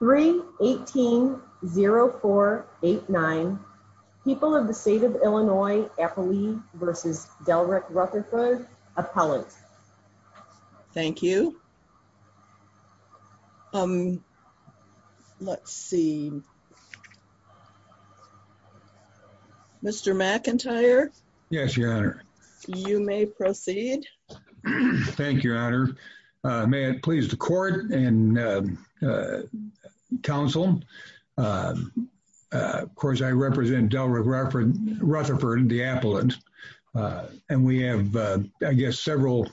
318-0489. People of the State of Illinois, Afflee v. Delrick Rutherford. Appellant. Thank you. Um, let's see. Mr. McIntyre. Yes, Your Honor. You may proceed. Thank you, Your Honor. May it please the Court and Council. Of course, I represent Delrick Rutherford, the appellant. And we have, I guess, several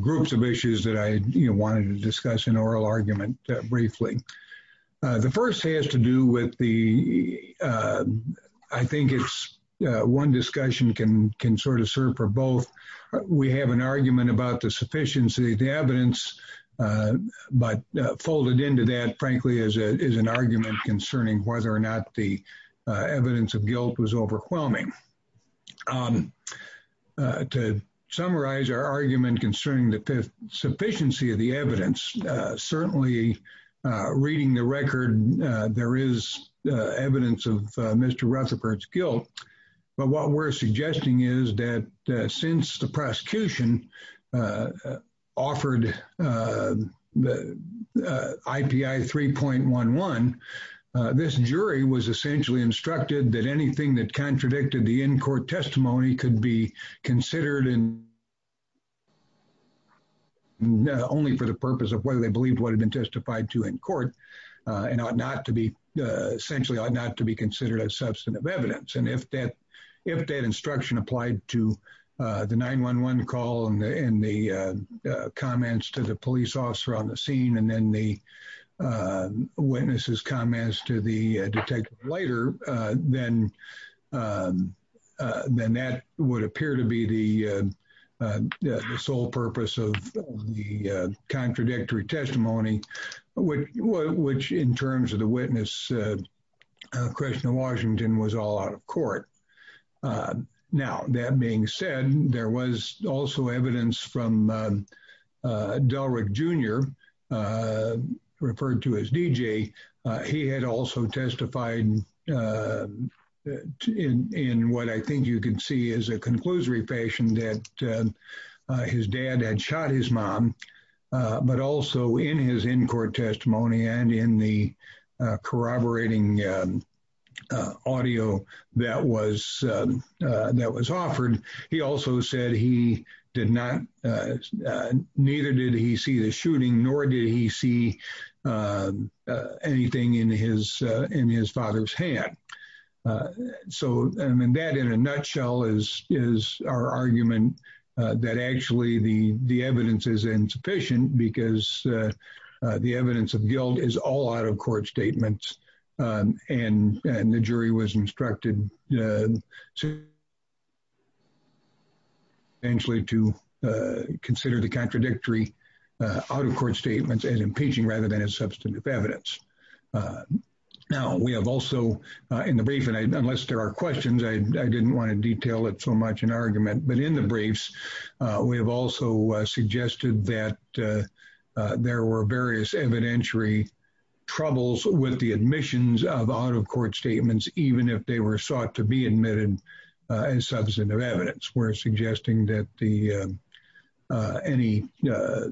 groups of issues that I wanted to discuss in oral argument briefly. The first has to do with the, I think it's one discussion can can sort of serve for both. We have an argument about the sufficiency of the evidence, but folded into that, frankly, is an argument concerning whether or not the evidence of guilt was overwhelming. To summarize our argument concerning the sufficiency of the evidence, certainly reading the record, there is evidence of Mr. Rutherford's guilt. But what we're suggesting is that since the prosecution offered IPI 3.11, this jury was essentially instructed that anything that contradicted the in-court testimony could be considered only for the purpose of whether they believed what had been testified to in court and ought not to be essentially ought not to be considered as substantive evidence. And if that instruction applied to the 9-1-1 call and the comments to the police officer on the scene and then the witnesses' comments to the detective later, then that would appear to be the sole purpose of the contradictory testimony, which in terms of the witness, Krishna Washington, was all out of court. Now, that being said, there was also evidence from Delrick Jr., referred to as DJ. He had also testified in what I think you can see is a conclusory fashion that his dad had shot his mom, but also in his in-court testimony and in the corroborating audio that was offered, he also said he did not, neither did he see the shooting, nor did he see anything in his father's hand. So that in a nutshell is our argument that actually the evidence is insufficient because the evidence of guilt is all out-of-court statements and the jury was instructed to consider the contradictory out-of-court statements as impeaching rather than as substantive evidence. Now, we have also in the brief, and unless there are questions, I didn't want to detail it so much in argument, but in the briefs, we have also suggested that there were various evidentiary troubles with the admissions of out-of-court statements, even if they were sought to be admitted as substantive evidence. We're suggesting that any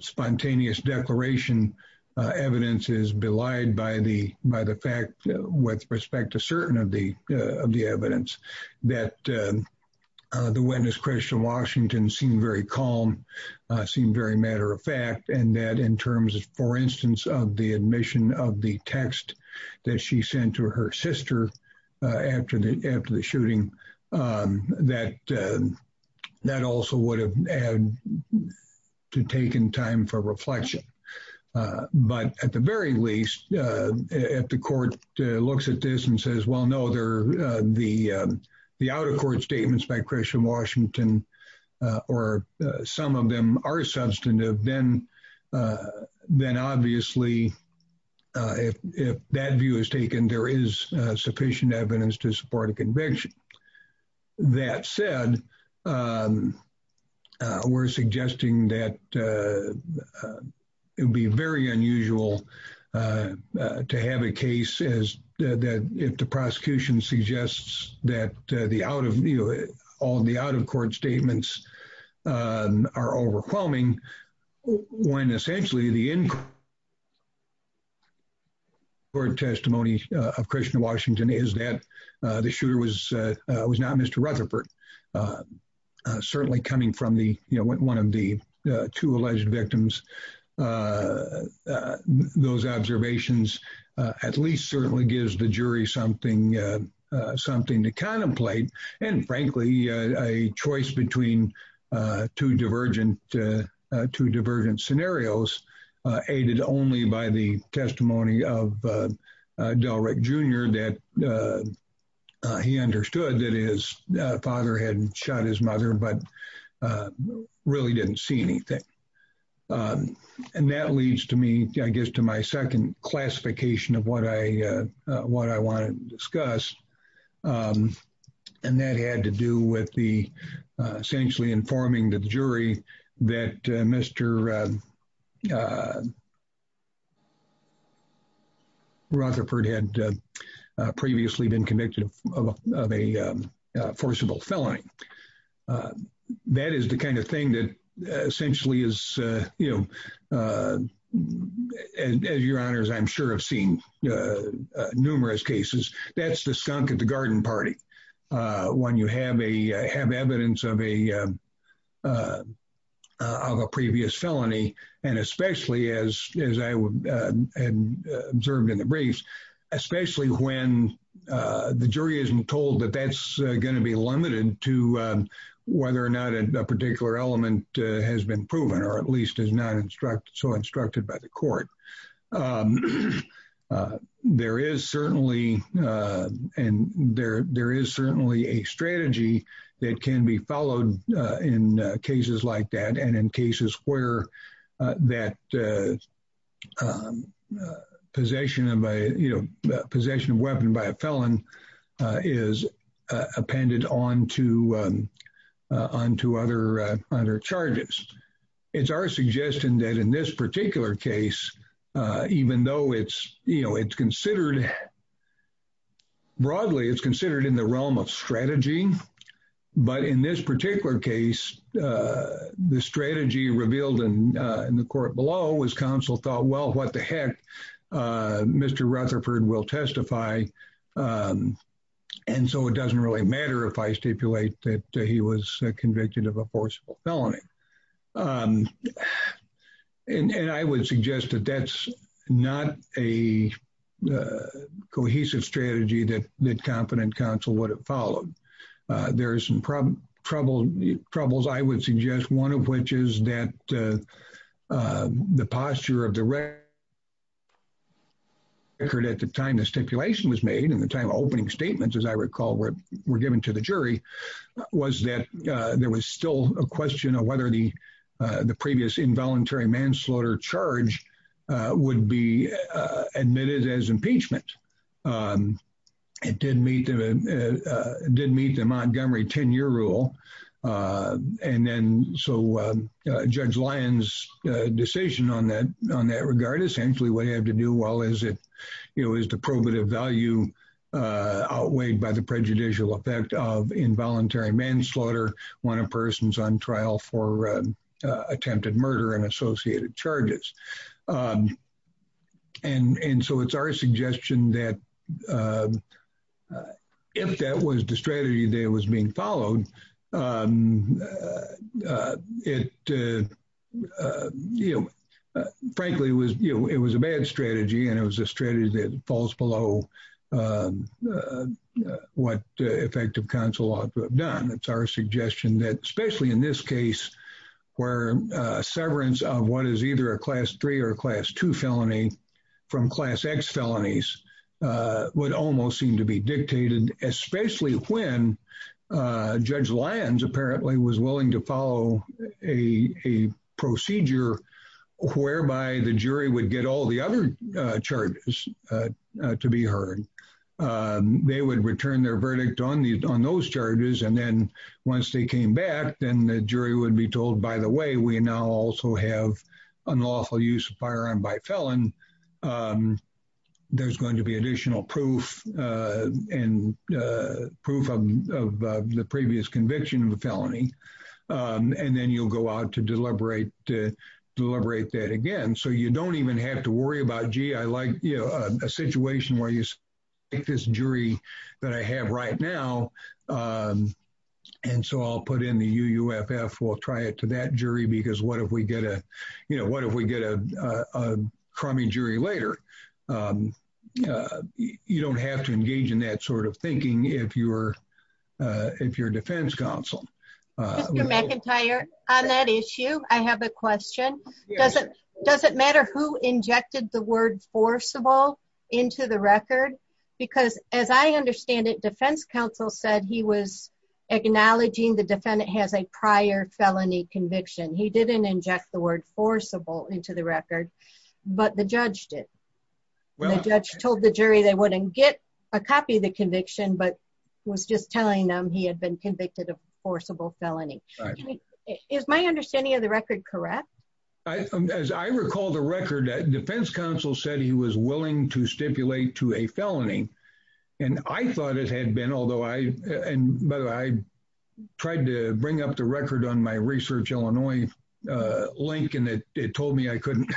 spontaneous declaration evidence is belied by the fact, with respect to certain of the evidence, that the witness, Christian Washington, seemed very calm, seemed very matter-of-fact, and that in terms, for instance, of the admission of the text that she sent to her sister after the shooting, that also would have taken time for reflection. But at the very least, if the court looks at this and says, well, no, the out-of-court statements by Christian Washington or some of them are substantive, then obviously, if that view is taken, there is sufficient evidence to support a conviction. That said, we're suggesting that it would be very unusual to have a case that, if the prosecution suggests that all the out-of-court statements are overwhelming, when essentially the in-court testimony of Christian Washington is that the shooter was shot. It was not Mr. Rutherford, certainly coming from one of the two alleged victims. Those observations at least certainly gives the jury something to contemplate, and frankly, a choice between two divergent scenarios, aided only by the testimony of Delrick Jr., that he understood that his father had shot his mother, but really didn't see anything. And that leads to me, I guess, to my second classification of what I want to discuss, and that had to do with the essentially informing the jury that Mr. Rutherford had previously been convicted of a forcible felling. That is the kind of thing that essentially is, you know, as your honors, I'm sure have seen numerous cases, that's the skunk at the garden party. When you have evidence of a previous felony, and especially as I observed in the briefs, especially when the jury isn't told that that's going to be limited to whether or not a particular element has been proven, or at least is not so instructed by the court. There is certainly a strategy that can be followed in cases like that, and in cases where that possession of weapon by a felon is appended on to other charges. It's our suggestion that in this particular case, even though it's, you know, it's considered, broadly, it's considered in the realm of strategy, but in this particular case, the strategy revealed in the court below was counsel thought, well, what the heck, Mr. Rutherford will testify, and so it doesn't really matter if I stipulate that he was convicted of a forcible felony. And I would suggest that that's not a cohesive strategy that competent counsel would have followed. There is some troubles, I would suggest, one of which is that the posture of the record at the time the stipulation was made, and the time opening statements, as I recall, were given to the jury, was that there was still a question of whether the previous involuntary manslaughter charge would be admitted as impeachment. It did meet the Montgomery 10-year rule, and then so Judge Lyons' decision on that regard, essentially what he had to do, well, is it, you know, is the probative value outweighed by the prejudicial effect of involuntary manslaughter when a person's on trial for attempted murder and associated charges. And so it's our suggestion that if that was the strategy that was being followed, it, you know, frankly, it was a bad strategy, and it was a strategy that falls below what effective counsel ought to have done. It's our suggestion that, especially in this case, where severance of what is either a Class 3 or a Class 2 felony from Class X felonies would almost seem to be dictated, especially when Judge Lyons apparently was willing to follow a procedure whereby the jury would get all the other charges to be heard. They would return their verdict on those charges, and then once they came back, then the jury would be told, by the way, we now also have unlawful use of firearm by felon. There's going to be additional proof and proof of the previous conviction of a felony, and then you'll go out to deliberate that again, so you don't even have to worry about, gee, I like, you know, a situation where you take this jury that I have right now, and so I'll put in the UUFF. We'll try it to that jury, because what if we get a, you know, what if we get a crummy jury later? You don't have to engage in that sort of thinking if you're defense counsel. Mr. McIntyre, on that issue, I have a question. Does it matter who injected the word forcible into the record? Because as I understand it, defense counsel said he was acknowledging the defendant has a prior felony conviction. He didn't inject the word forcible into the record, but the judge did. The judge told the jury they wouldn't get a copy of the conviction, but was just telling them he had been convicted of forcible felony. Is my understanding of the record correct? As I recall the record, defense counsel said he was willing to stipulate to a felony, and I thought it had been, although I tried to bring up the record on my Research Illinois link, and it told me I couldn't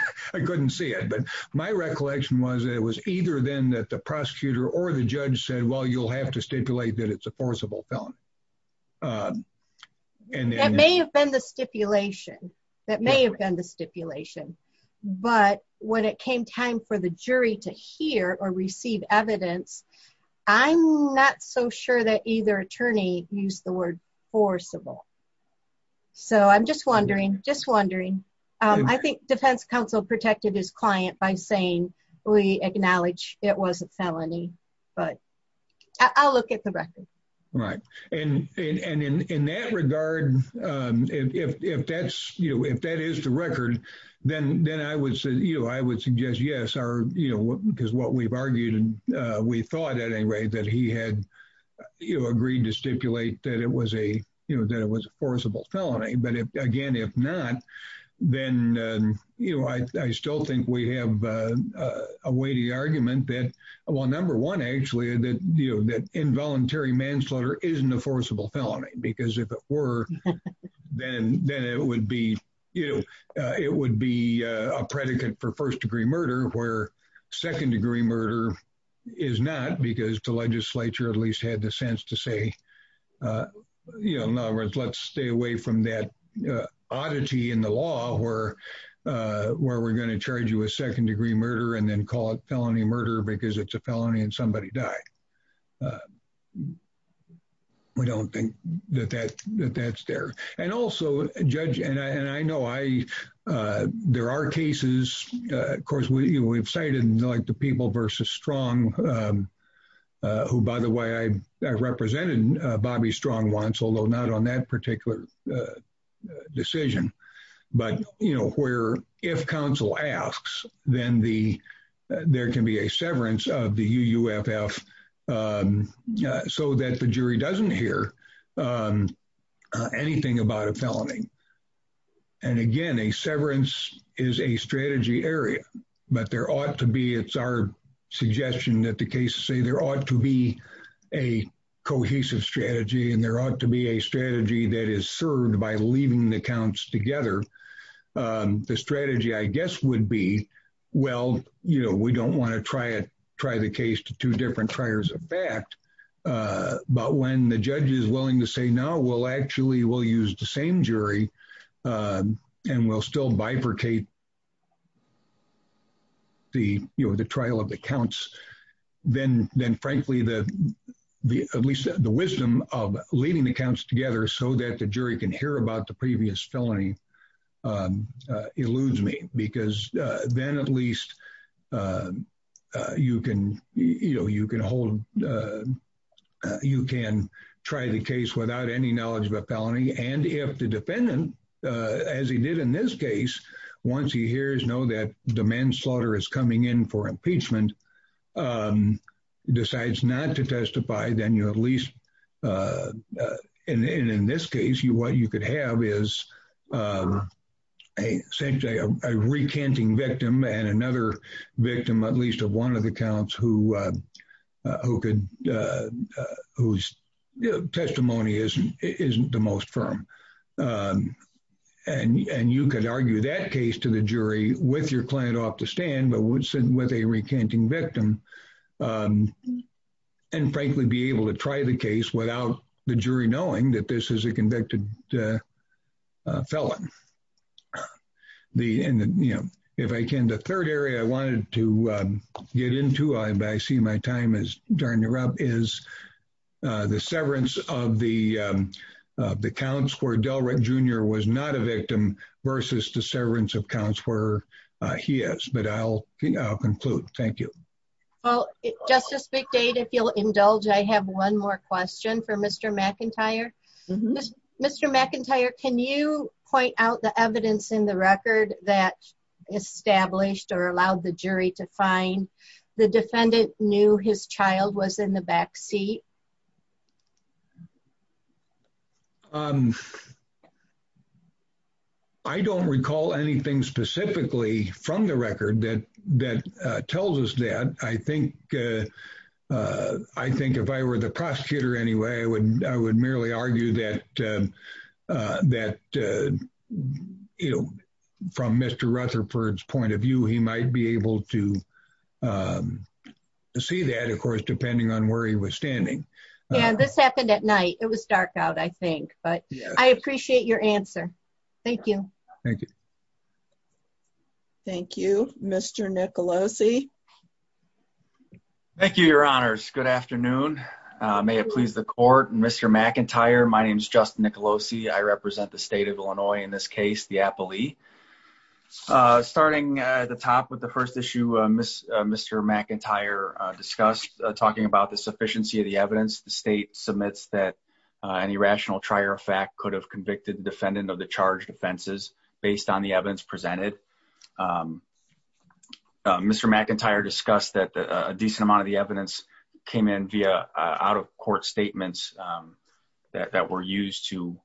see it. But my recollection was that it was either then that the prosecutor or the judge said, well, you'll have to stipulate that it's a forcible felony. It may have been the stipulation. That may have been the stipulation. But when it came time for the jury to hear or receive evidence, I'm not so sure that either attorney used the word forcible. I'm just wondering. I think defense counsel protected his client by saying we acknowledge it was a felony, but I'll look at the record. And in that regard, if that is the record, then I would suggest yes, because what we've argued and we thought at any rate that he had agreed to stipulate that it was a forcible felony. But again, if not, then I still think we have a weighty argument that, well, number one, actually, that involuntary manslaughter isn't a forcible felony, because if it were, then it would be a predicate for first-degree murder, where second-degree murder is not, because the legislature at least had the sense to say, you know, in other words, let's stay away from that oddity in the law where we're going to charge you with second-degree murder and then call it felony murder because it's a felony and somebody died. We don't think that that's there. And also, Judge, and I know there are cases, of course, we've cited like the People v. Strong, who, by the way, I represented Bobby Strong once, although not on that particular decision, but, you know, where if counsel asks, then there can be a severance of the UUFF so that the jury doesn't hear anything like that. And again, a severance is a strategy area, but there ought to be, it's our suggestion that the cases say there ought to be a cohesive strategy and there ought to be a strategy that is served by leaving the counts together. The strategy, I guess, would be, well, you know, we don't want to try the case to two different triers of fact, but when the judge is willing to say, no, we'll actually, we'll use the same jury and we'll still bifurcate the trial of the counts, then frankly, at least the wisdom of leaving the counts together so that the jury can hear about the previous felony eludes me, because then at least you can, you know, you can hold, you can try the case without any knowledge of a felony. And if the defendant, as he did in this case, once he hears, know that demand slaughter is coming in for impeachment, decides not to testify, then you at least, and in this case, you, what you could have is essentially a recanting victim and another victim, at least of one of the counts who could, whose testimony isn't the most firm. And you could argue that case to the jury with your client off the stand, but would sit with a recanting victim and frankly be able to try the case without the jury knowing that this is a convicted felon. The, and the, you know, if I can, the third area I wanted to get into, I see my time is turning up, is the severance of the counts where Delred Jr. was not a victim versus the severance of counts where he is, but I'll conclude. Thank you. Well, Justice McDade, if you'll indulge, I have one more question for Mr. McIntyre. Mr. McIntyre, can you point out the evidence in the record that established or allowed the jury to find the defendant knew his child was in the backseat? I don't recall anything specifically from the record that, that tells us that. I think, I think if I were the prosecutor anyway, I would, I would merely argue that, that, you know, from Mr. Rutherford's point of view, he might be able to see that, of course, depending on where he was standing. Yeah, this happened at night. It was dark out, I think, but I appreciate your answer. Thank you. Thank you. Thank you, Mr. Nicolosi. Thank you, Your Honors. Good afternoon. May it please the court. Mr. McIntyre, my name is Justin Nicolosi. I represent the state of Illinois in this case, the Appalee. Starting at the top with the first issue, Mr. McIntyre discussed talking about the sufficiency of the evidence. The state submits that an irrational trier fact could have convicted defendant of the charged offenses based on the evidence presented. Mr. McIntyre discussed that a decent amount of the evidence came in via out of court statements that were used to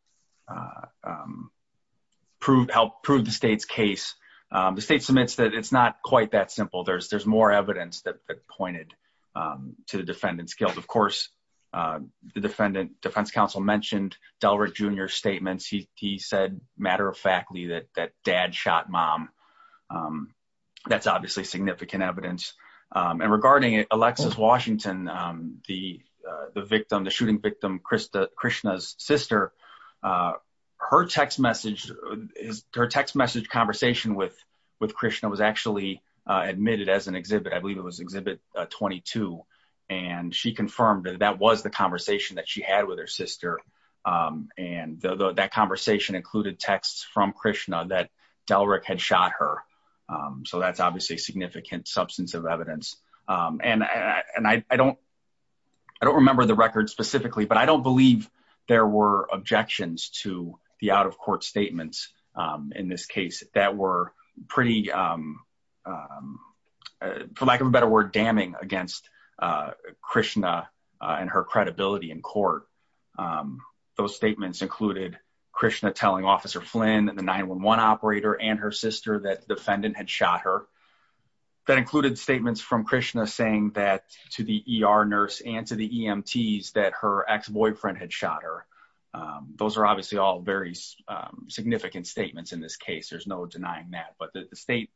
prove, help prove the state's case. The state submits that it's not quite that simple. There's, there's more evidence that pointed to the defendant's guilt. Of course, the defendant, defense counsel mentioned Delrick Jr. statements. He said, matter of factly, that dad shot mom. That's obviously significant evidence. And regarding Alexis Washington, the victim, the shooting victim, Krishna's sister, her text message, her text message conversation with Krishna was actually admitted as an exhibit. I believe it was exhibit 22. And she confirmed that that was the conversation that she had with her sister. And that conversation included texts from Krishna that Delrick had shot her. So that's obviously significant substance of evidence. And I don't, I don't remember the record specifically, but I don't believe there were objections to the out of court statements in this case that were pretty, for lack of a better word, damning against Krishna and her credibility in court. Those statements included Krishna telling Officer Flynn and the 911 operator and her sister that defendant had shot her. That included statements from Krishna saying that to the ER nurse and to the EMTs that her ex-boyfriend had shot her. Those are obviously all very significant statements in this case. There's no denying that. But the state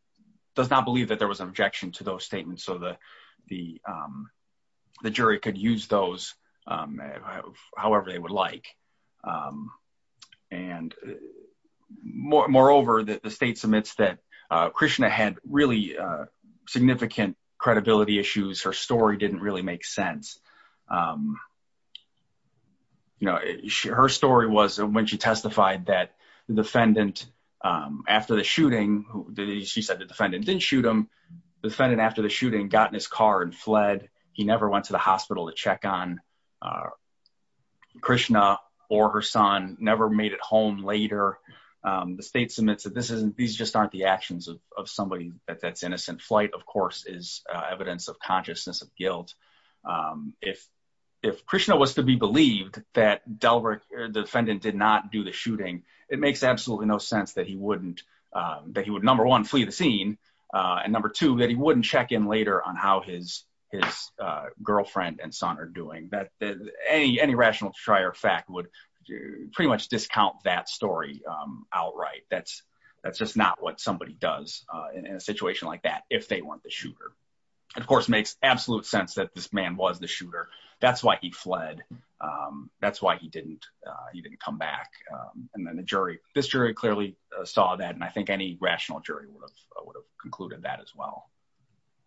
does not believe that there was an objection to those statements. So the jury could use those however they would like. And moreover, the state submits that Krishna had really significant credibility issues. Her story didn't really make sense. You know, her story was when she testified that the defendant, after the shooting, she said the defendant didn't shoot him. The defendant after the shooting got in his car and fled. He never went to the hospital to check on Krishna or her son, never made it home later. The state submits that these just aren't the actions of somebody that's innocent. Flight, of course, is evidence of consciousness of guilt. If Krishna was to be believed that Delrick, the defendant, did not do the shooting, it makes absolutely no sense that he wouldn't, that he would, number one, flee the scene. And number two, that he wouldn't check in later on how his girlfriend and son are doing. Any rational fact would pretty much discount that story outright. That's just not what somebody does in a situation like that, if they weren't the shooter. It, of course, makes absolute sense that this man was the shooter. That's why he fled. That's why he didn't, he didn't come back. And then the jury, this jury clearly saw that. And I think any rational jury would have concluded that as well.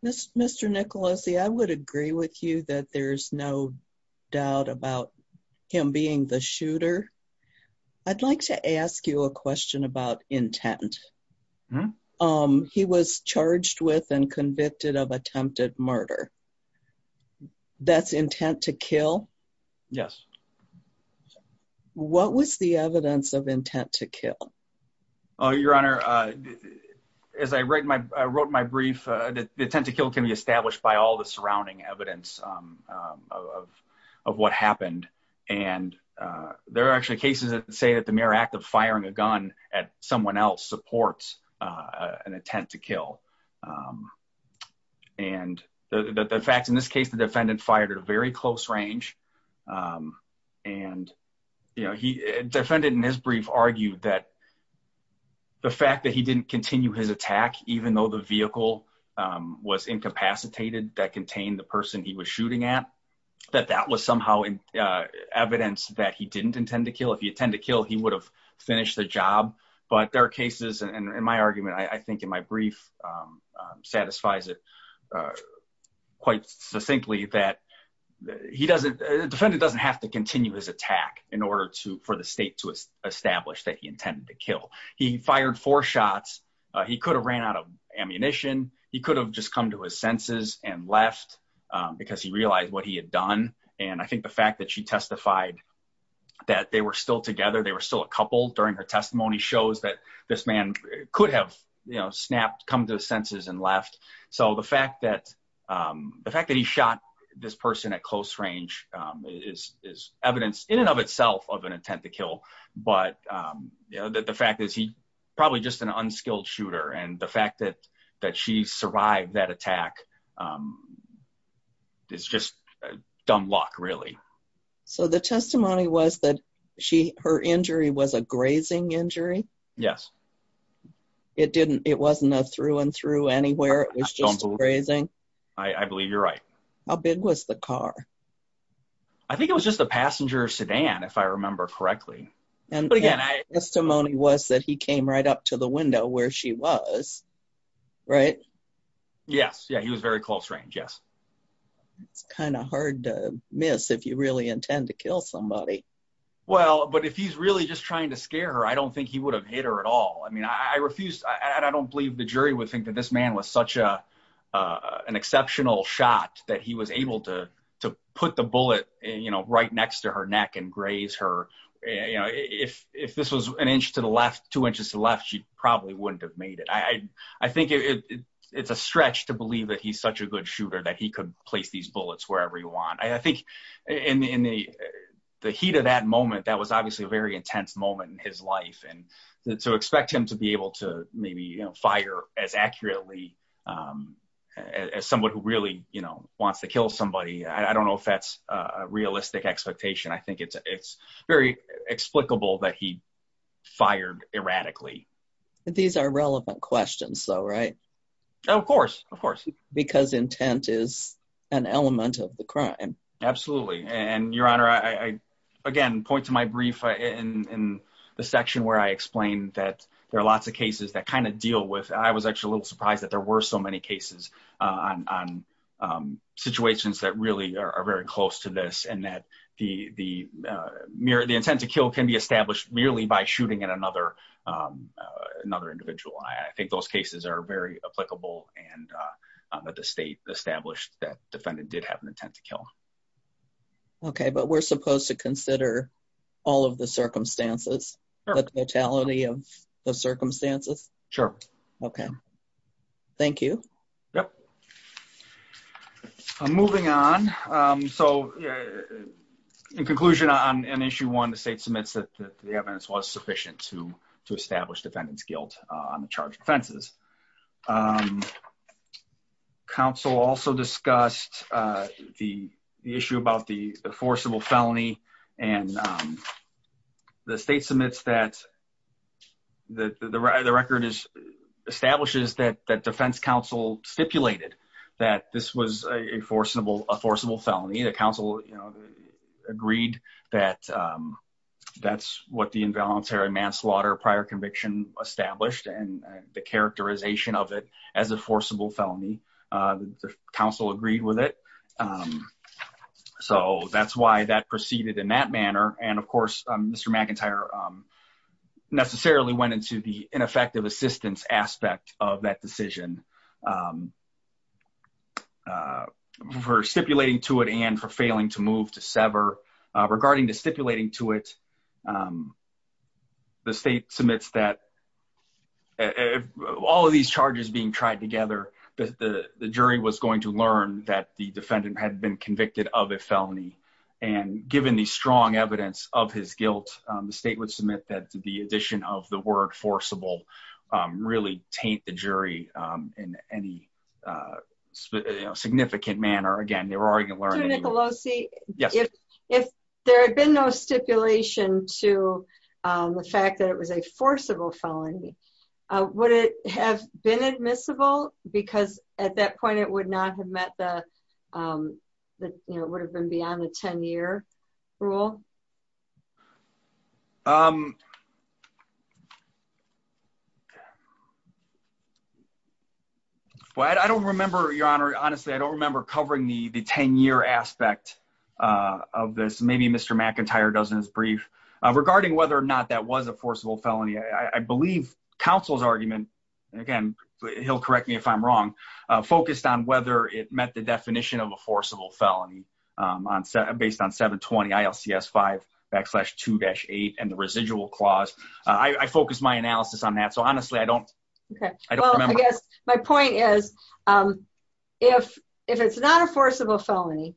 Mr. Nicolosi, I would agree with you that there's no doubt about him being the shooter. I'd like to ask you a question about intent. He was charged with and convicted of attempted murder. That's intent to kill? Yes. What was the evidence of intent to kill? Your Honor, as I wrote my brief, the intent to kill can be established by all the surrounding evidence of what happened. And there are actually cases that say that the mere act of firing a gun at someone else supports an intent to kill. And the fact, in this case, the defendant fired at a very close range. And, you know, the defendant in his brief argued that the fact that he didn't continue his attack, even though the vehicle was incapacitated, that contained the person he was shooting at, that that was somehow evidence that he didn't intend to kill. If he intended to kill, he would have finished the job. But there are cases, and in my argument, I think in my brief, satisfies it quite succinctly that he doesn't, the defendant doesn't have to continue his attack in order to, for the state to establish that he intended to kill. He fired four shots. He could have ran out of ammunition. He could have just come to his senses and left because he realized what he had done. And I think the fact that she testified that they were still together, they were still a couple during her testimony shows that this man could have, you know, snapped, come to his senses and left. So the fact that, the fact that he shot this person at close range is evidence in and of itself of an intent to kill. But, you know, the fact is he probably just an unskilled shooter. And the fact that she survived that attack is just dumb luck, really. So the testimony was that she, her injury was a grazing injury? Yes. It didn't, it wasn't a through and through anywhere? It was just a grazing? I believe you're right. How big was the car? I think it was just a passenger sedan, if I remember correctly. But again, I... And the testimony was that he came right up to the window where she was, right? Yes. Yeah, he was very close range. Yes. It's kind of hard to miss if you really intend to kill somebody. Well, but if he's really just trying to scare her, I don't think he would have hit her at all. I mean, I refuse, I don't believe the jury would think that this man was such a, an exceptional shot that he was able to, to put the bullet, you know, right next to her neck and graze her. If this was an inch to the left, two inches to the left, she probably wouldn't have made it. I think it's a stretch to believe that he's such a good shooter that he could place these bullets wherever you want. I think in the heat of that moment, that was obviously a very intense moment in his life. And to expect him to be able to maybe fire as accurately as someone who really, you know, wants to kill somebody. I don't know if that's a realistic expectation. I think it's very explicable that he fired erratically. These are relevant questions though, right? Of course, of course. Because intent is an element of the crime. Absolutely. And Your Honor, I, again, point to my brief in the section where I explained that there are lots of cases that kind of deal with, I was actually a little surprised that there were so many cases on situations that really are very close to this and that the intent to kill can be established merely by shooting at another individual. I think those cases are very applicable and that the state established that defendant did have an intent to kill. Okay, but we're supposed to consider all of the circumstances, the totality of the circumstances? Sure. Okay. Thank you. Yep. Moving on. So, in conclusion on Issue 1, the state submits that the evidence was sufficient to establish defendant's guilt on the charged offenses. Counsel also discussed the issue about the forcible felony and the state submits that the record establishes that defense counsel stipulated that this was a forcible felony. The counsel agreed that that's what the involuntary manslaughter prior conviction established and the characterization of it as a forcible felony. The counsel agreed with it. So that's why that proceeded in that manner. And of course, Mr. McIntyre necessarily went into the ineffective assistance aspect of that decision. For stipulating to it and for failing to move to sever. Regarding the stipulating to it, the state submits that all of these charges being tried together, the jury was going to learn that the defendant had been convicted of a felony. And given the strong evidence of his guilt, the state would submit that the addition of the word forcible really taint the jury in any significant manner. Again, they were already going to learn. If there had been no stipulation to the fact that it was a forcible felony, would it have been admissible? Because at that point, it would not have met the would have been beyond the 10 year rule. Well, I don't remember, Your Honor. Honestly, I don't remember covering the 10 year aspect of this. Maybe Mr. McIntyre does in his brief. Regarding whether or not that was a forcible felony, I believe counsel's argument, again, he'll correct me if I'm wrong, focused on whether it met the definition of a forcible felony based on 720 ILCS 5 backslash 2-8 and the residual clause. I focused my analysis on that. So honestly, I don't remember. I guess my point is, if it's not a forcible felony,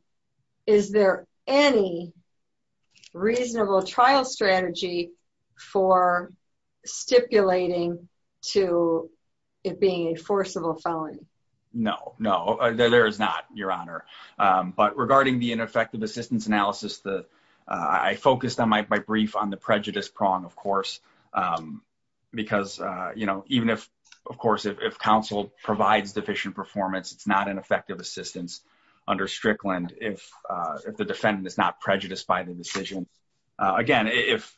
is there any reasonable trial strategy for stipulating to it being a forcible felony? No, no, there is not, Your Honor. But regarding the ineffective assistance analysis, I focused on my brief on the prejudice prong, of course. Because, you know, even if, of course, if counsel provides deficient performance, it's not an effective assistance under Strickland if the defendant is not prejudiced by the decision. Again, if,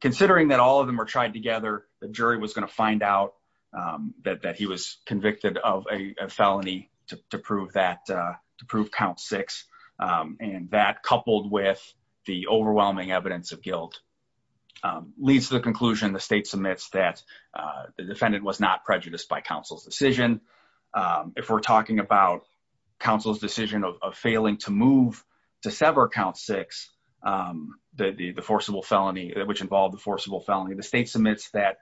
considering that all of them are tried together, the jury was going to find out that he was convicted of a felony to prove that, to prove count six, and that coupled with the overwhelming evidence of guilt leads to the conclusion the state submits that the defendant was not prejudiced by counsel's decision. If we're talking about counsel's decision of failing to move to sever count six, the forcible felony, which involved the forcible felony, the state submits that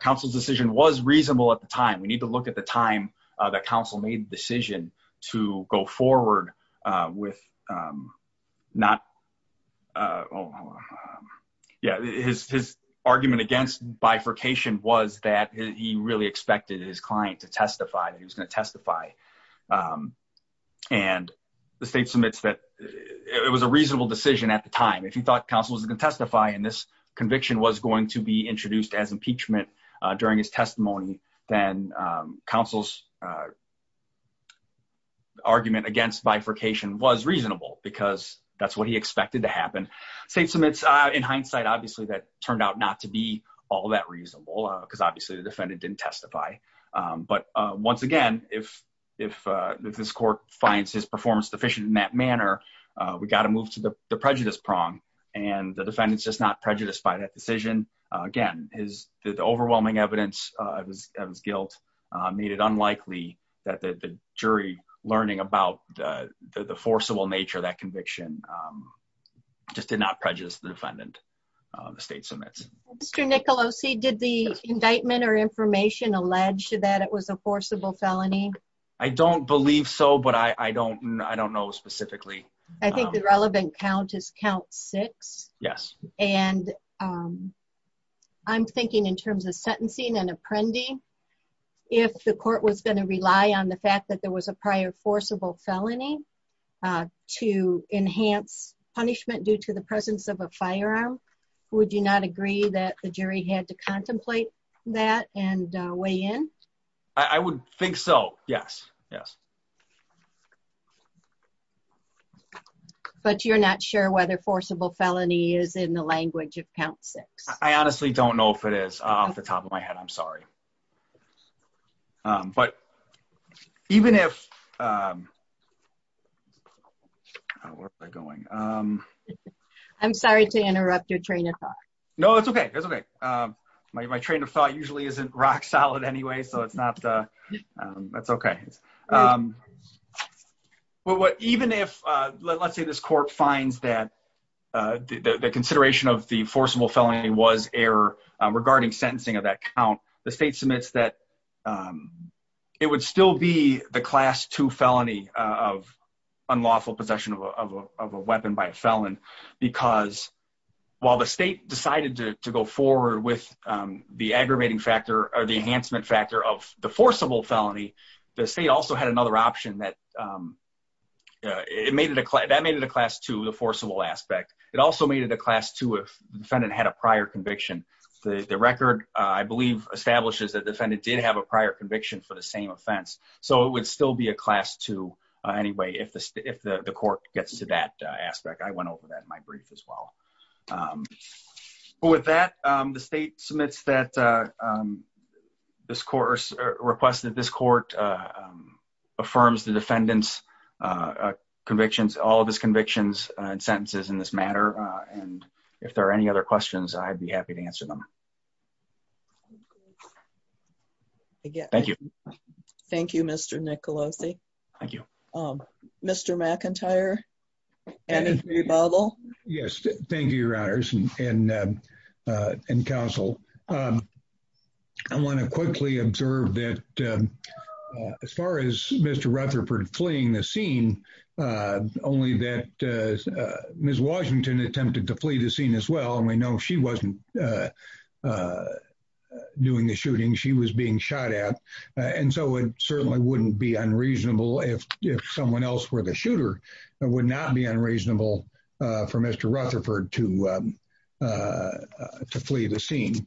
counsel's decision was reasonable at the time. We need to look at the time that counsel made the decision to go forward with not, yeah, his argument against bifurcation was that he really expected his client to testify. He was going to testify. And the state submits that it was a reasonable decision at the time. If you thought counsel was going to testify and this conviction was going to be introduced as impeachment during his testimony, then counsel's argument against bifurcation was reasonable because that's what he expected to happen. State submits, in hindsight, obviously that turned out not to be all that reasonable because obviously the defendant didn't testify. But once again, if this court finds his performance deficient in that manner, we got to move to the prejudice prong and the defendant's just not prejudiced by that decision. Again, the overwhelming evidence of his guilt made it unlikely that the jury learning about the forcible nature of that conviction just did not prejudice the defendant, the state submits. Mr. Nicolosi, did the indictment or information allege that it was a forcible felony? I don't believe so, but I don't know specifically. I think the relevant count is count six. Yes. And I'm thinking in terms of sentencing and apprendi, if the court was going to rely on the fact that there was a prior forcible felony to enhance punishment due to the presence of a firearm, would you not agree that the jury had to contemplate that and weigh in? I would think so. Yes, yes. But you're not sure whether forcible felony is in the language of count six. I honestly don't know if it is off the top of my head. I'm sorry. But even if I'm sorry to interrupt your train of thought. No, it's OK. My train of thought usually isn't rock solid anyway, so it's not. That's OK. But even if let's say this court finds that the consideration of the forcible felony was error regarding sentencing of that count, the state submits that it would still be the class two felony of unlawful possession of a weapon by a felon. Because while the state decided to go forward with the aggravating factor or the enhancement factor of the forcible felony, the state also had another option that it made it that made it a class to the forcible aspect. It also made it a class two if the defendant had a prior conviction. The record, I believe, establishes that defendant did have a prior conviction for the same offense. So it would still be a class two anyway, if the if the court gets to that aspect. I went over that in my brief as well. With that, the state submits that this court requested this court affirms the defendant's convictions, all of his convictions and sentences in this matter. And if there are any other questions, I'd be happy to answer them. Thank you. Thank you, Mr. Nicolosi. Thank you, Mr. McIntyre. Yes. Thank you, Your Honors and Counsel. I want to quickly observe that as far as Mr. Rutherford fleeing the scene, only that Miss Washington attempted to flee the scene as well. And we know she wasn't doing the shooting she was being shot at. And so it certainly wouldn't be unreasonable if someone else were the shooter. It would not be unreasonable for Mr. Rutherford to flee the scene.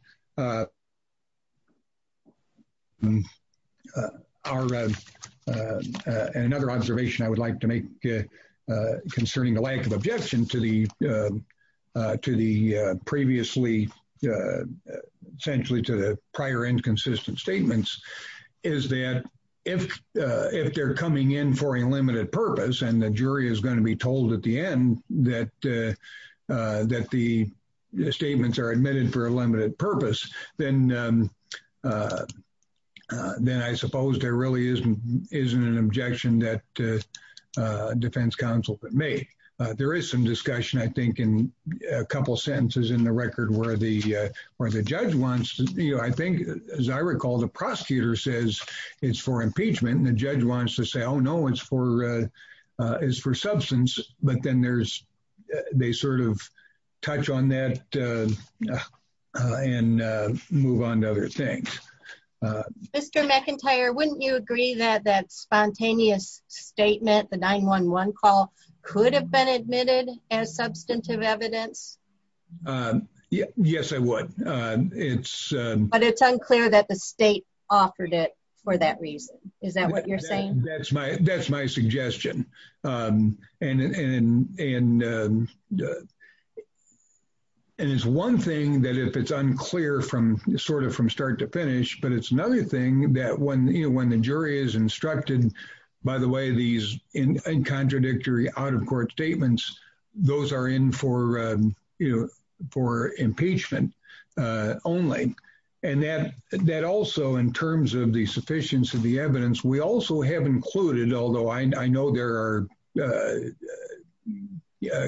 And another observation I would like to make concerning the lack of objection to the to the previously essentially to the prior inconsistent statements is that if if they're coming in for a limited purpose and the jury is going to be told at the end that that the statements are admitted for a limited purpose. Then then I suppose there really isn't isn't an objection that defense counsel may. There is some discussion, I think, in a couple of sentences in the record where the where the judge wants. I think, as I recall, the prosecutor says it's for impeachment. And the judge wants to say, oh, no, it's for is for substance. But then there's they sort of touch on that and move on to other things. Mr. McIntyre, wouldn't you agree that that spontaneous statement, the 911 call could have been admitted as substantive evidence? Yes, I would. But it's unclear that the state offered it for that reason. Is that what you're saying? That's my that's my suggestion. And and and. And it's one thing that if it's unclear from sort of from start to finish, but it's another thing that when you when the jury is instructed, by the way, these in contradictory out of court statements, those are in for you for impeachment only. And that that also in terms of the sufficiency of the evidence, we also have included, although I know there are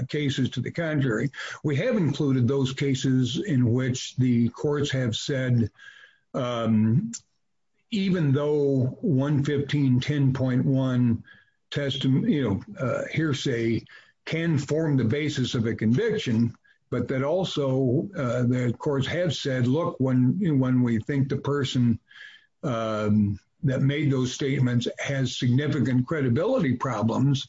cases to the contrary, we have included those cases in which the courts have said, even though one fifteen ten point one testimony, you know, hearsay can form the basis of a conviction. But that also the courts have said, look, when when we think the person that made those statements has significant credibility problems,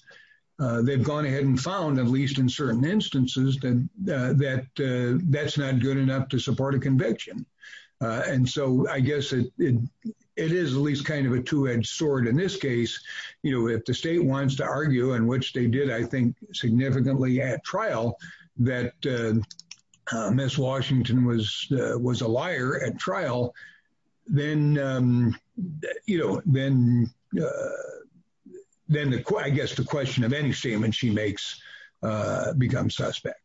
they've gone ahead and found, at least in certain instances, that that that's not good enough to support a conviction. And so I guess it is at least kind of a two edged sword in this case. You know, if the state wants to argue in which they did, I think significantly at trial that Miss Washington was was a liar at trial, then, you know, then then I guess the question of any statement she makes become suspect.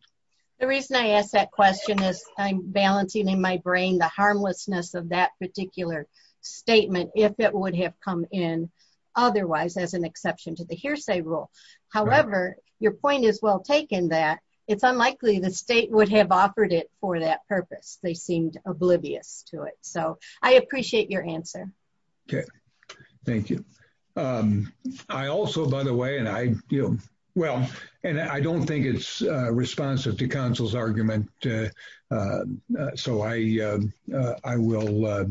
The reason I asked that question is I'm balancing in my brain, the harmlessness of that particular statement, if it would have come in. Otherwise, as an exception to the hearsay rule. However, your point is well taken that it's unlikely the state would have offered it for that purpose. They seemed oblivious to it. So I appreciate your answer. Okay, thank you. I also, by the way, and I, you know, well, and I don't think it's responsive to counsel's argument. So I, I will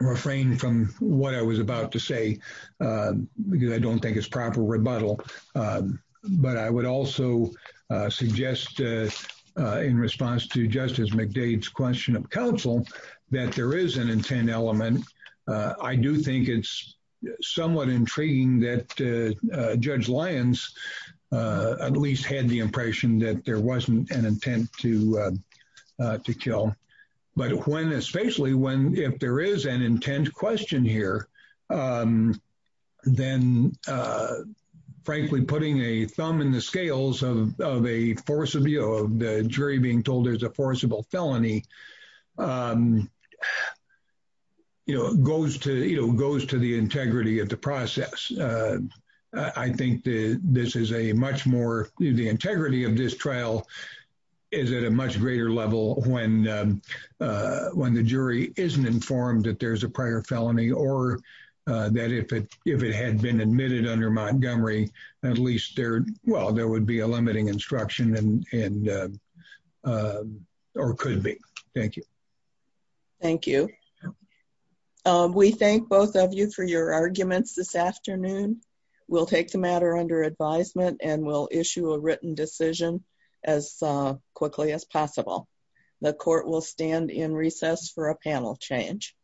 refrain from what I was about to say, because I don't think it's proper rebuttal. But I would also suggest in response to Justice McDade's question of counsel that there is an intent element. I do think it's somewhat intriguing that Judge Lyons at least had the impression that there wasn't an intent to to kill. But when especially when if there is an intent question here, then, frankly, putting a thumb in the scales of a force of the jury being told there's a forcible felony, you know, goes to, you know, goes to the integrity of the process. I think this is a much more the integrity of this trial is at a much greater level when when the jury isn't informed that there's a prior felony or that if it if it had been admitted under Montgomery, at least there, well, there would be a limiting instruction and or could be. Thank you. Thank you. We thank both of you for your arguments this afternoon. We'll take the matter under advisement and we'll issue a written decision as quickly as possible. The court will stand in recess for a panel change.